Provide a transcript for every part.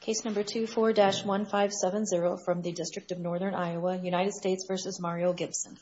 Case number 24-1570 from the District of Northern Iowa, United States v. Mario Gibson.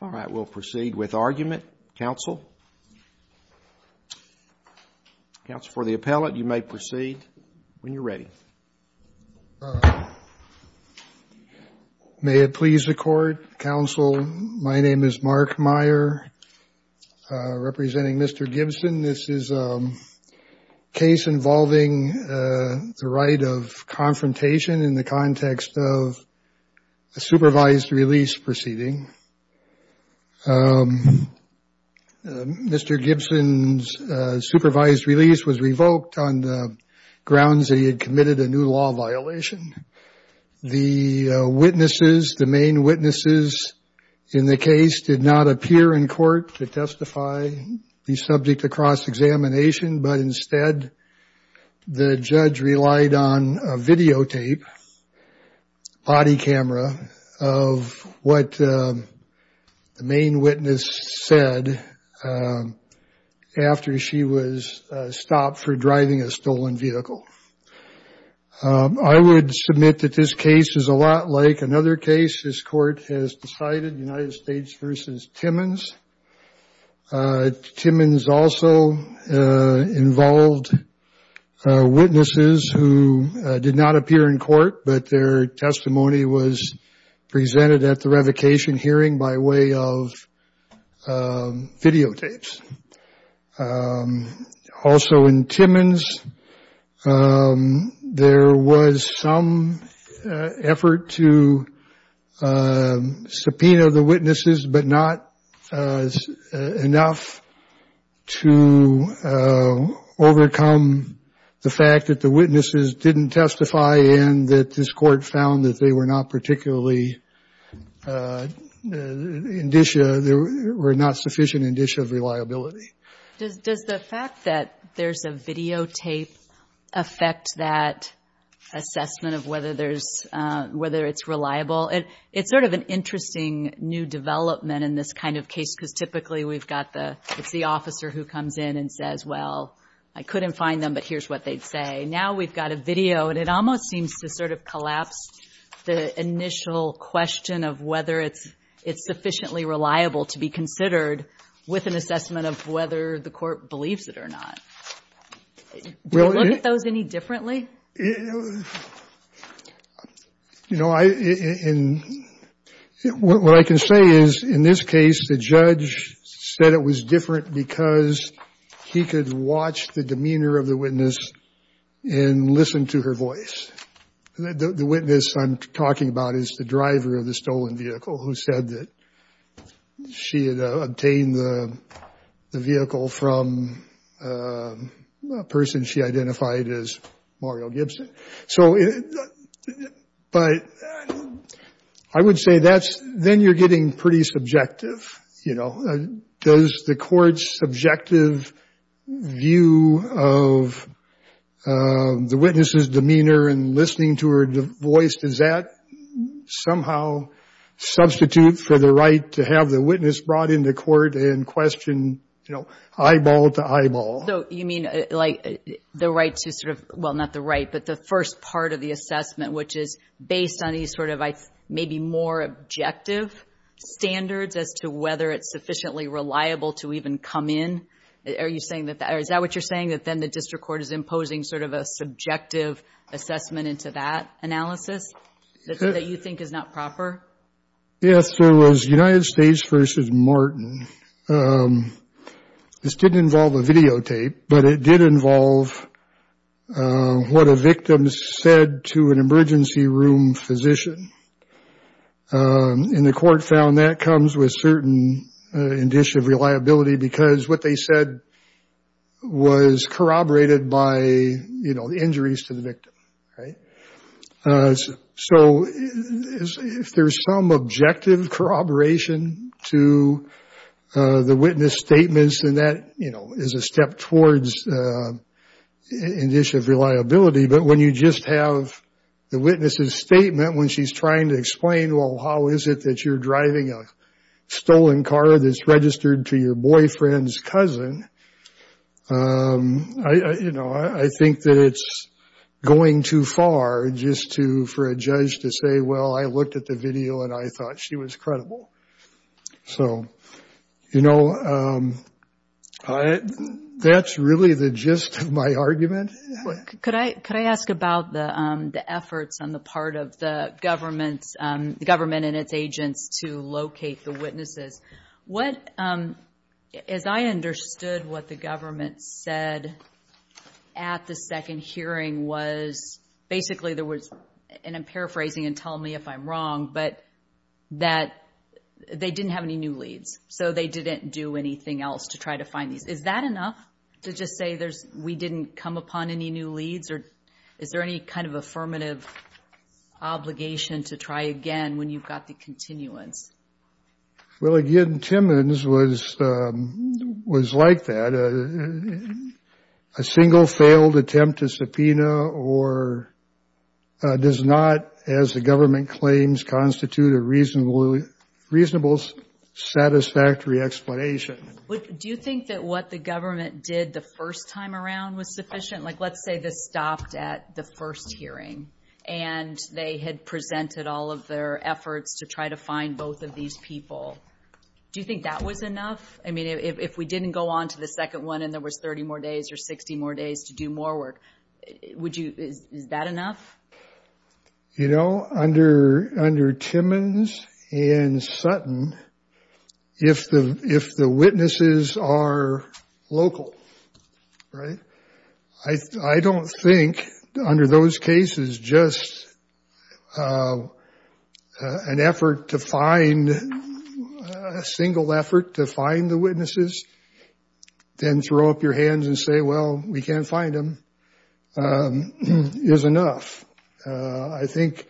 All right, we'll proceed with argument. Counsel, counsel for the appellate, you may proceed when you're ready. May it please the Court, counsel, my name is Mark Meyer representing Mr. Gibson. This is a case involving the right of confrontation in the context of a supervised release proceeding. Mr. Gibson's supervised release was revoked on the grounds that he had committed a new law violation. The witnesses, the main witnesses in the case did not appear in court to testify the subject to cross-examination, but instead the judge relied on a videotape, body camera, of what the main witness said after she was stopped for driving a stolen vehicle. I would submit that this case is a lot like another case this Court has decided, United States v. Timmons. Timmons also involved witnesses who did not appear in court, but their testimony was presented at the revocation hearing by way of videotapes. Also in Timmons, there was some effort to subpoena the witnesses, but not enough to overcome the fact that the witnesses didn't testify and that this Court found that they were not particularly, there were not sufficient indicia of reliability. Does the fact that there's a videotape affect that assessment of whether there's, whether it's reliable? It's sort of an interesting new development in this kind of case because typically we've got the, it's the officer who comes in and says, well, I couldn't find them, but here's what they'd say. Now we've got a video, and it almost seems to sort of collapse the initial question of whether it's sufficiently reliable to be considered with an assessment of whether the Court believes it or not. Do you look at those any differently? You know, what I can say is in this case, the judge said it was different because he could watch the demeanor of the witness and listen to her voice. The witness I'm talking about is the driver of the stolen vehicle who said that she had obtained the vehicle from a person she identified as Mario Gibson. So, but I would say that's, then you're getting pretty subjective, you know. Does the Court's subjective view of the witness's demeanor and listening to her voice, does that somehow substitute for the right to have the witness brought into court and questioned, you know, eyeball to eyeball? So you mean, like, the right to sort of, well, not the right, but the first part of the assessment, which is based on these sort of maybe more objective standards as to whether it's sufficiently reliable to even come in? Are you saying that, or is that what you're saying, that then the district court is imposing sort of a subjective assessment into that analysis that you think is not proper? Yes, there was United States v. Martin. This didn't involve a videotape, but it did involve what a victim said to an emergency room physician. And the Court found that comes with certain indicia of reliability because what they said was corroborated by, you know, the injuries to the victim, right? So if there's some objective corroboration to the witness's statements, then that, you know, is a step towards indicia of reliability. But when you just have the witness's statement when she's trying to explain, well, how is it that you're driving a stolen car that's registered to your boyfriend's cousin, you know, I think that it's going too far just for a judge to say, well, I looked at the video and I thought she was credible. So, you know, that's really the gist of my argument. Could I ask about the efforts on the part of the government and its agents to locate the witnesses? As I understood what the government said at the second hearing was basically there was, and I'm paraphrasing and tell me if I'm wrong, but that they didn't have any new leads. So they didn't do anything else to try to find these. Is that enough to just say we didn't come upon any new leads, or is there any kind of affirmative obligation to try again when you've got the continuance? Well, again, Timmons was like that. A single failed attempt to subpoena does not, as the government claims, constitute a reasonable satisfactory explanation. Do you think that what the government did the first time around was sufficient? Like, let's say this stopped at the first hearing, and they had presented all of their efforts to try to find both of these people. Do you think that was enough? I mean, if we didn't go on to the second one and there was 30 more days or 60 more days to do more work, would you, is that enough? You know, under Timmons and Sutton, if the witnesses are local, right, I don't think under those cases just an effort to find, a single effort to find the witnesses, then throw up your hands and say, well, we can't find them, is enough. I think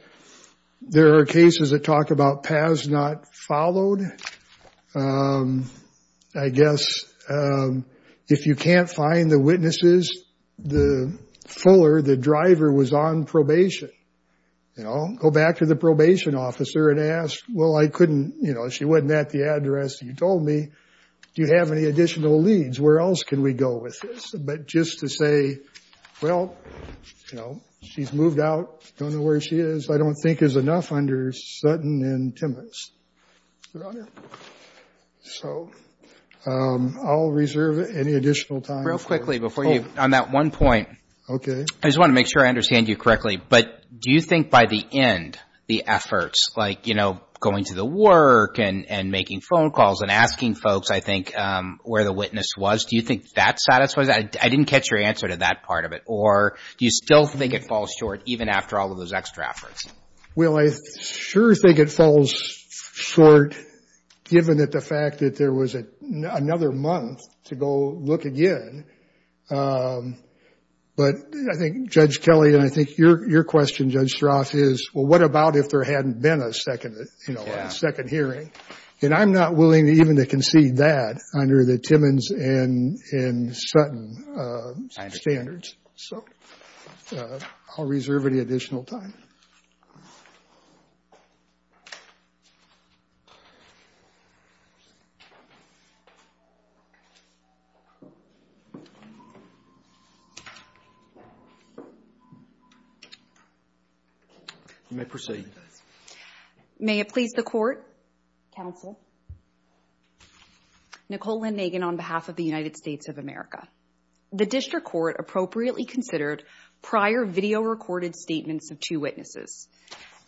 there are cases that talk about paths not followed. I guess if you can't find the witnesses, the fuller, the driver, was on probation. You know, go back to the probation officer and ask, well, I couldn't, you know, she wasn't at the address you told me, do you have any additional leads? Where else can we go with this? But just to say, well, you know, she's moved out, don't know where she is, I don't think is enough under Sutton and Timmons, Your Honor. So I'll reserve any additional time. Real quickly before you, on that one point. Okay. I just want to make sure I understand you correctly. But do you think by the end, the efforts, like, you know, going to the work and making phone calls and asking folks, I think, where the witness was, do you think that satisfies that? I didn't catch your answer to that part of it. Or do you still think it falls short, even after all of those extra efforts? Well, I sure think it falls short, given the fact that there was another month to go look again. But I think Judge Kelly and I think your question, Judge Strauss, is, well, what about if there hadn't been a second, you know, a second hearing? And I'm not willing even to concede that under the Timmons and Sutton standards. Standards. So I'll reserve any additional time. You may proceed. May it please the Court, Counsel. Nicole Lynn Nagan on behalf of the United States of America. The District Court appropriately considered prior video-recorded statements of two witnesses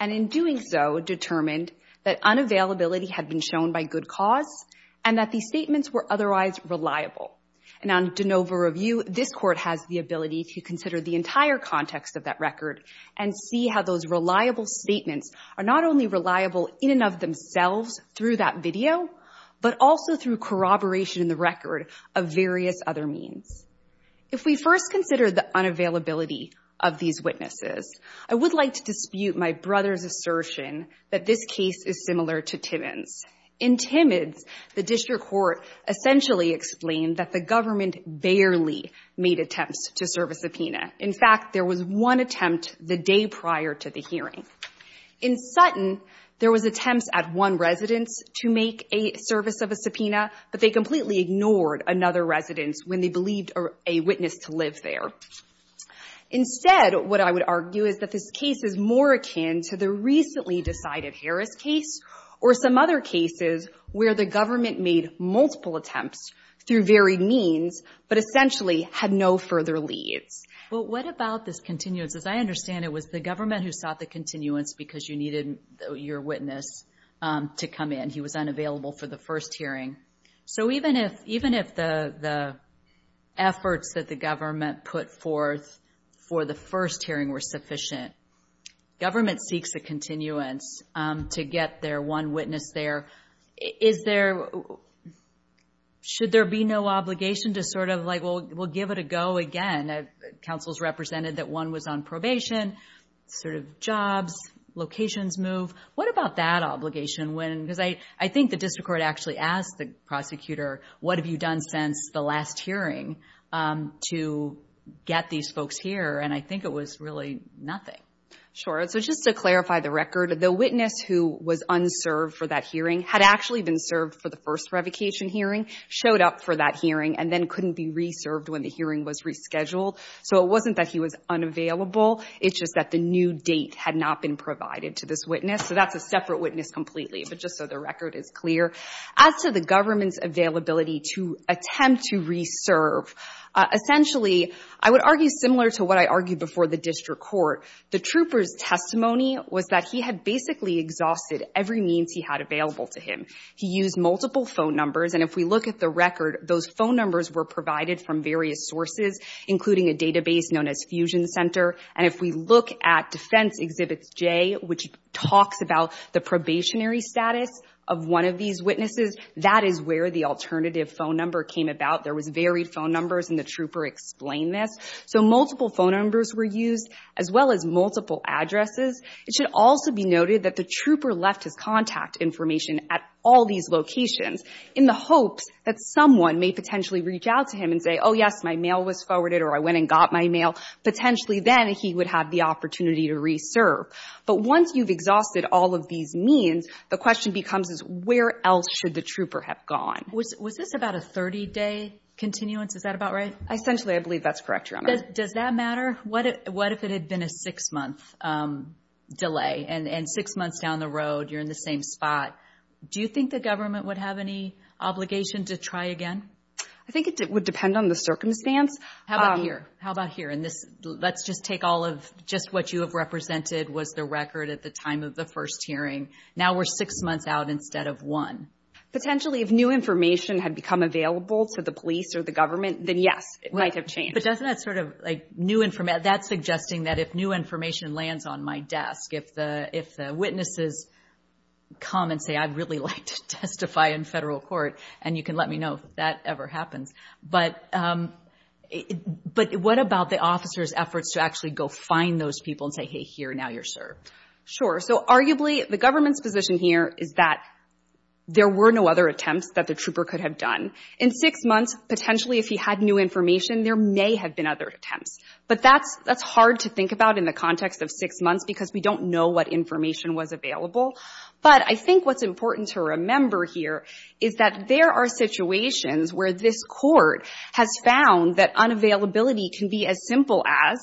and in doing so determined that unavailability had been shown by good cause and that these statements were otherwise reliable. And on de novo review, this Court has the ability to consider the entire context of that record and see how those reliable statements are not only reliable in and of themselves through that video, but also through corroboration in the record of various other means. If we first consider the unavailability of these witnesses, I would like to dispute my brother's assertion that this case is similar to Timmons. In Timmons, the District Court essentially explained that the government barely made attempts to serve a subpoena. In fact, there was one attempt the day prior to the hearing. In Sutton, there was attempts at one residence to make a service of a subpoena, but they completely ignored another residence when they believed a witness to live there. Instead, what I would argue is that this case is more akin to the recently decided Harris case or some other cases where the government made multiple attempts through varied means, but essentially had no further leads. Well, what about this continuance? As I understand it, it was the government who sought the continuance because you needed your witness to come in. He was unavailable for the first hearing. So even if the efforts that the government put forth for the first hearing were sufficient, government seeks a continuance to get their one witness there. Should there be no obligation to sort of like, well, we'll give it a go again? Councils represented that one was on probation, sort of jobs, locations move. What about that obligation? Because I think the District Court actually asked the prosecutor, what have you done since the last hearing to get these folks here? And I think it was really nothing. Sure. So just to clarify the record, the witness who was unserved for that hearing had actually been served for the first revocation hearing, showed up for that hearing, and then couldn't be reserved when the hearing was rescheduled. So it wasn't that he was unavailable. It's just that the new date had not been provided to this witness. So that's a separate witness completely, but just so the record is clear. As to the government's availability to attempt to reserve, essentially I would argue similar to what I argued before the District Court. The trooper's testimony was that he had basically exhausted every means he had available to him. He used multiple phone numbers, and if we look at the record, those phone numbers were provided from various sources, including a database known as Fusion Center. And if we look at Defense Exhibits J, which talks about the probationary status of one of these witnesses, that is where the alternative phone number came about. There was varied phone numbers, and the trooper explained this. So multiple phone numbers were used, as well as multiple addresses. It should also be noted that the trooper left his contact information at all these locations in the hopes that someone may potentially reach out to him and say, oh, yes, my mail was forwarded, or I went and got my mail. Potentially then he would have the opportunity to reserve. But once you've exhausted all of these means, the question becomes is where else should the trooper have gone? Was this about a 30-day continuance? Is that about right? Essentially, I believe that's correct, Your Honor. Does that matter? What if it had been a six-month delay, and six months down the road you're in the same spot? Do you think the government would have any obligation to try again? I think it would depend on the circumstance. How about here? Let's just take all of just what you have represented was the record at the time of the first hearing. Now we're six months out instead of one. Potentially, if new information had become available to the police or the government, then, yes, it might have changed. But doesn't that sort of, like, new information? That's suggesting that if new information lands on my desk, if the witnesses come and say, I'd really like to testify in federal court, and you can let me know if that ever happens. But what about the officer's efforts to actually go find those people and say, hey, here, now you're served? Sure. So arguably the government's position here is that there were no other attempts that the trooper could have done. In six months, potentially, if he had new information, there may have been other attempts. But that's hard to think about in the context of six months because we don't know what information was available. But I think what's important to remember here is that there are situations where this court has found that unavailability can be as simple as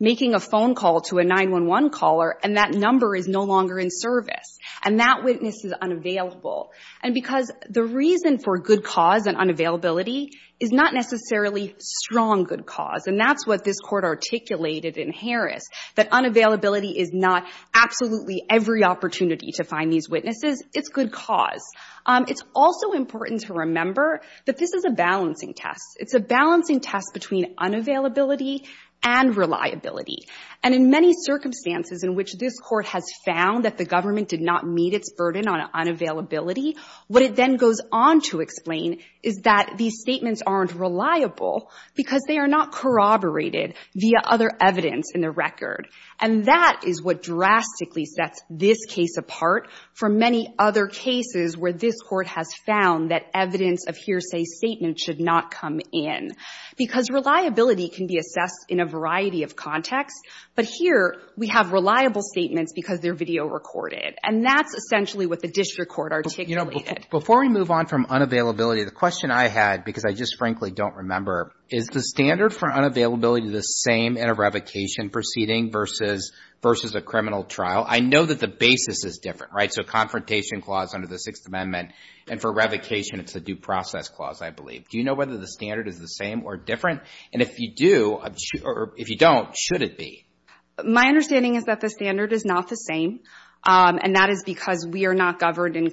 making a phone call to a 911 caller, and that number is no longer in service, and that witness is unavailable. And because the reason for good cause and unavailability is not necessarily strong good cause, and that's what this Court articulated in Harris, that unavailability is not absolutely every opportunity to find these witnesses. It's good cause. It's also important to remember that this is a balancing test. It's a balancing test between unavailability and reliability. And in many circumstances in which this Court has found that the government did not meet its burden on unavailability, what it then goes on to explain is that these statements aren't reliable because they are not corroborated via other evidence in the record. And that is what drastically sets this case apart from many other cases where this Court has found that evidence of hearsay statement should not come in. Because reliability can be assessed in a variety of contexts, but here we have reliable statements because they're video recorded. And that's essentially what the district court articulated. Before we move on from unavailability, the question I had, because I just frankly don't remember, is the standard for unavailability the same in a revocation proceeding versus a criminal trial? I know that the basis is different, right? So a confrontation clause under the Sixth Amendment, and for revocation it's a due process clause, I believe. Do you know whether the standard is the same or different? And if you do, or if you don't, should it be? My understanding is that the standard is not the same, and that is because we are not governed under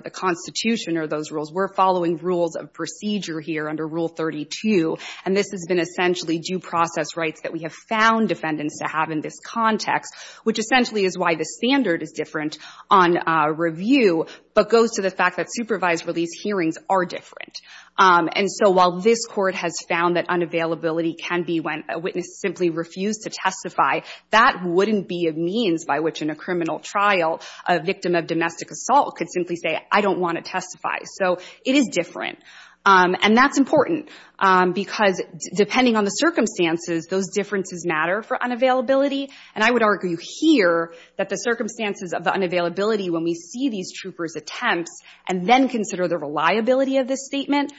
the Constitution or those rules. We're following rules of procedure here under Rule 32, and this has been essentially due process rights that we have found defendants to have in this context, which essentially is why the standard is different on review, but goes to the fact that supervised release hearings are different. And so while this Court has found that unavailability can be when a witness simply refused to testify, that wouldn't be a means by which in a criminal trial a victim of domestic assault could simply say, I don't want to testify. So it is different. And that's important because depending on the circumstances, those differences matter for unavailability. And I would argue here that the circumstances of the unavailability when we see these troopers' attempts and then consider the reliability of this statement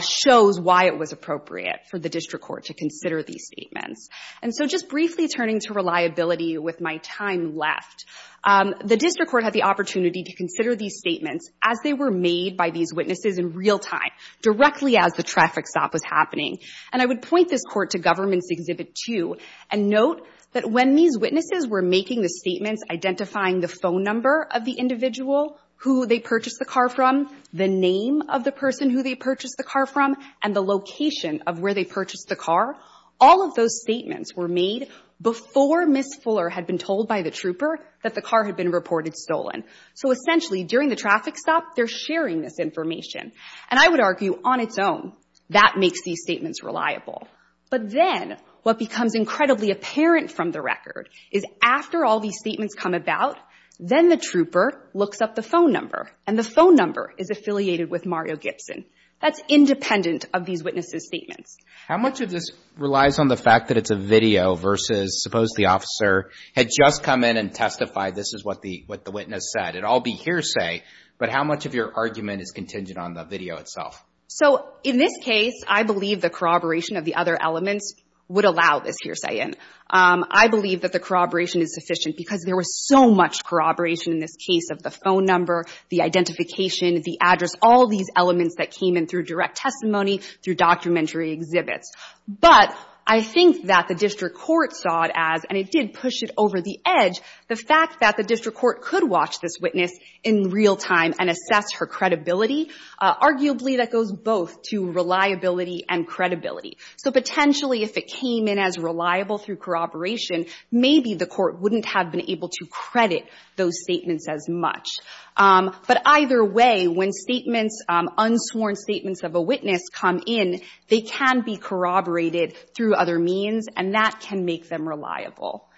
shows why it was appropriate for the District Court to consider these statements. And so just briefly turning to reliability with my time left, the District Court had the opportunity to consider these statements as they were made by these witnesses in real time, directly as the traffic stop was happening. And I would point this Court to Government's Exhibit 2 and note that when these witnesses were making the statements, identifying the phone number of the individual who they purchased the car from, the name of the person who they purchased the car from, and the location of where they purchased the car, all of those statements were made before Ms. Fuller had been told by the trooper that the car had been reported stolen. So essentially during the traffic stop, they're sharing this information. And I would argue on its own, that makes these statements reliable. But then what becomes incredibly apparent from the record is after all these statements come about, then the trooper looks up the phone number, and the phone number is affiliated with Mario Gibson. That's independent of these witnesses' statements. How much of this relies on the fact that it's a video versus suppose the officer had just come in and testified this is what the witness said. It would all be hearsay, but how much of your argument is contingent on the video itself? So in this case, I believe the corroboration of the other elements would allow this hearsay in. I believe that the corroboration is sufficient because there was so much corroboration in this case of the phone number, the identification, the address, all these elements that came in through direct testimony, through documentary exhibits. But I think that the district court saw it as, and it did push it over the edge, the fact that the district court could watch this witness in real time and assess her credibility, arguably that goes both to reliability and credibility. So potentially if it came in as reliable through corroboration, maybe the court wouldn't have been able to credit those statements as much. But either way, when statements, unsworn statements of a witness come in, they can be corroborated through other means, and that can make them reliable.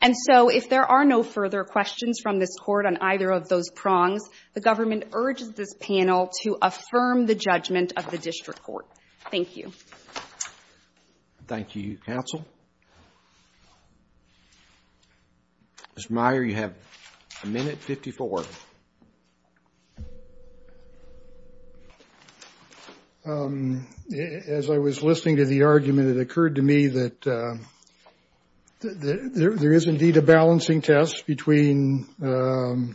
And so if there are no further questions from this court on either of those prongs, the government urges this panel to affirm the judgment of the district court. Thank you. Thank you, counsel. Ms. Meyer, you have a minute, 54. As I was listening to the argument, it occurred to me that there is indeed a balancing test between the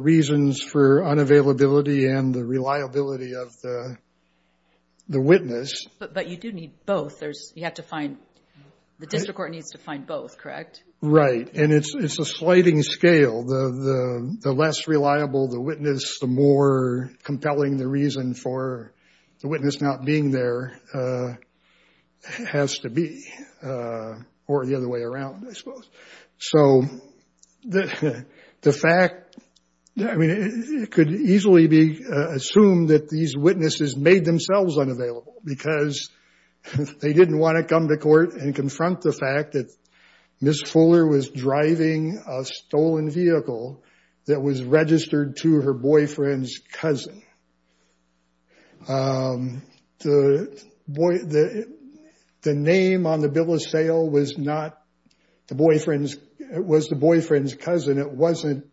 reasons for unavailability and the reliability of the witness. But you do need both. You have to find, the district court needs to find both, correct? Right. And it's a sliding scale. The less reliable the witness, the more compelling the reason for the witness not being there has to be, or the other way around, I suppose. So the fact, I mean, it could easily be assumed that these witnesses made themselves unavailable because they didn't want to come to court and confront the fact that Ms. Fuller was driving a stolen vehicle that was registered to her boyfriend's cousin. The name on the bill of sale was not the boyfriend's, it was the boyfriend's cousin. It wasn't,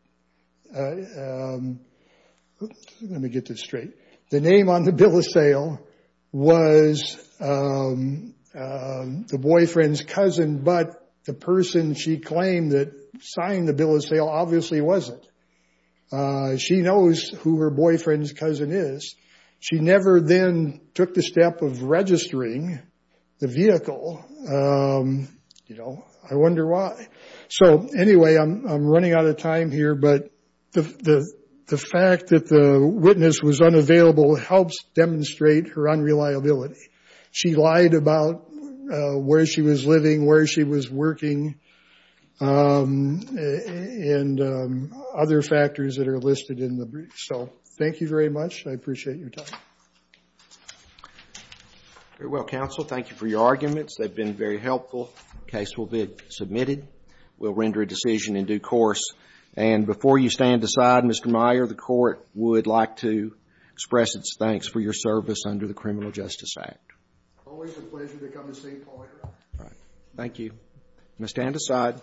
let me get this straight. The name on the bill of sale was the boyfriend's cousin, but the person she claimed that signed the bill of sale obviously wasn't. She knows who her boyfriend's cousin is. She never then took the step of registering the vehicle. You know, I wonder why. So anyway, I'm running out of time here, but the fact that the witness was unavailable helps demonstrate her unreliability. She lied about where she was living, where she was working, and other factors that are listed in the brief. So thank you very much. I appreciate your time. Very well, counsel. Thank you for your arguments. They've been very helpful. The case will be submitted. We'll render a decision in due course. And before you stand aside, Mr. Meyer, the court would like to express its thanks for your service under the Criminal Justice Act. Always a pleasure to come to St. Paul, Your Honor. Thank you. You may stand aside.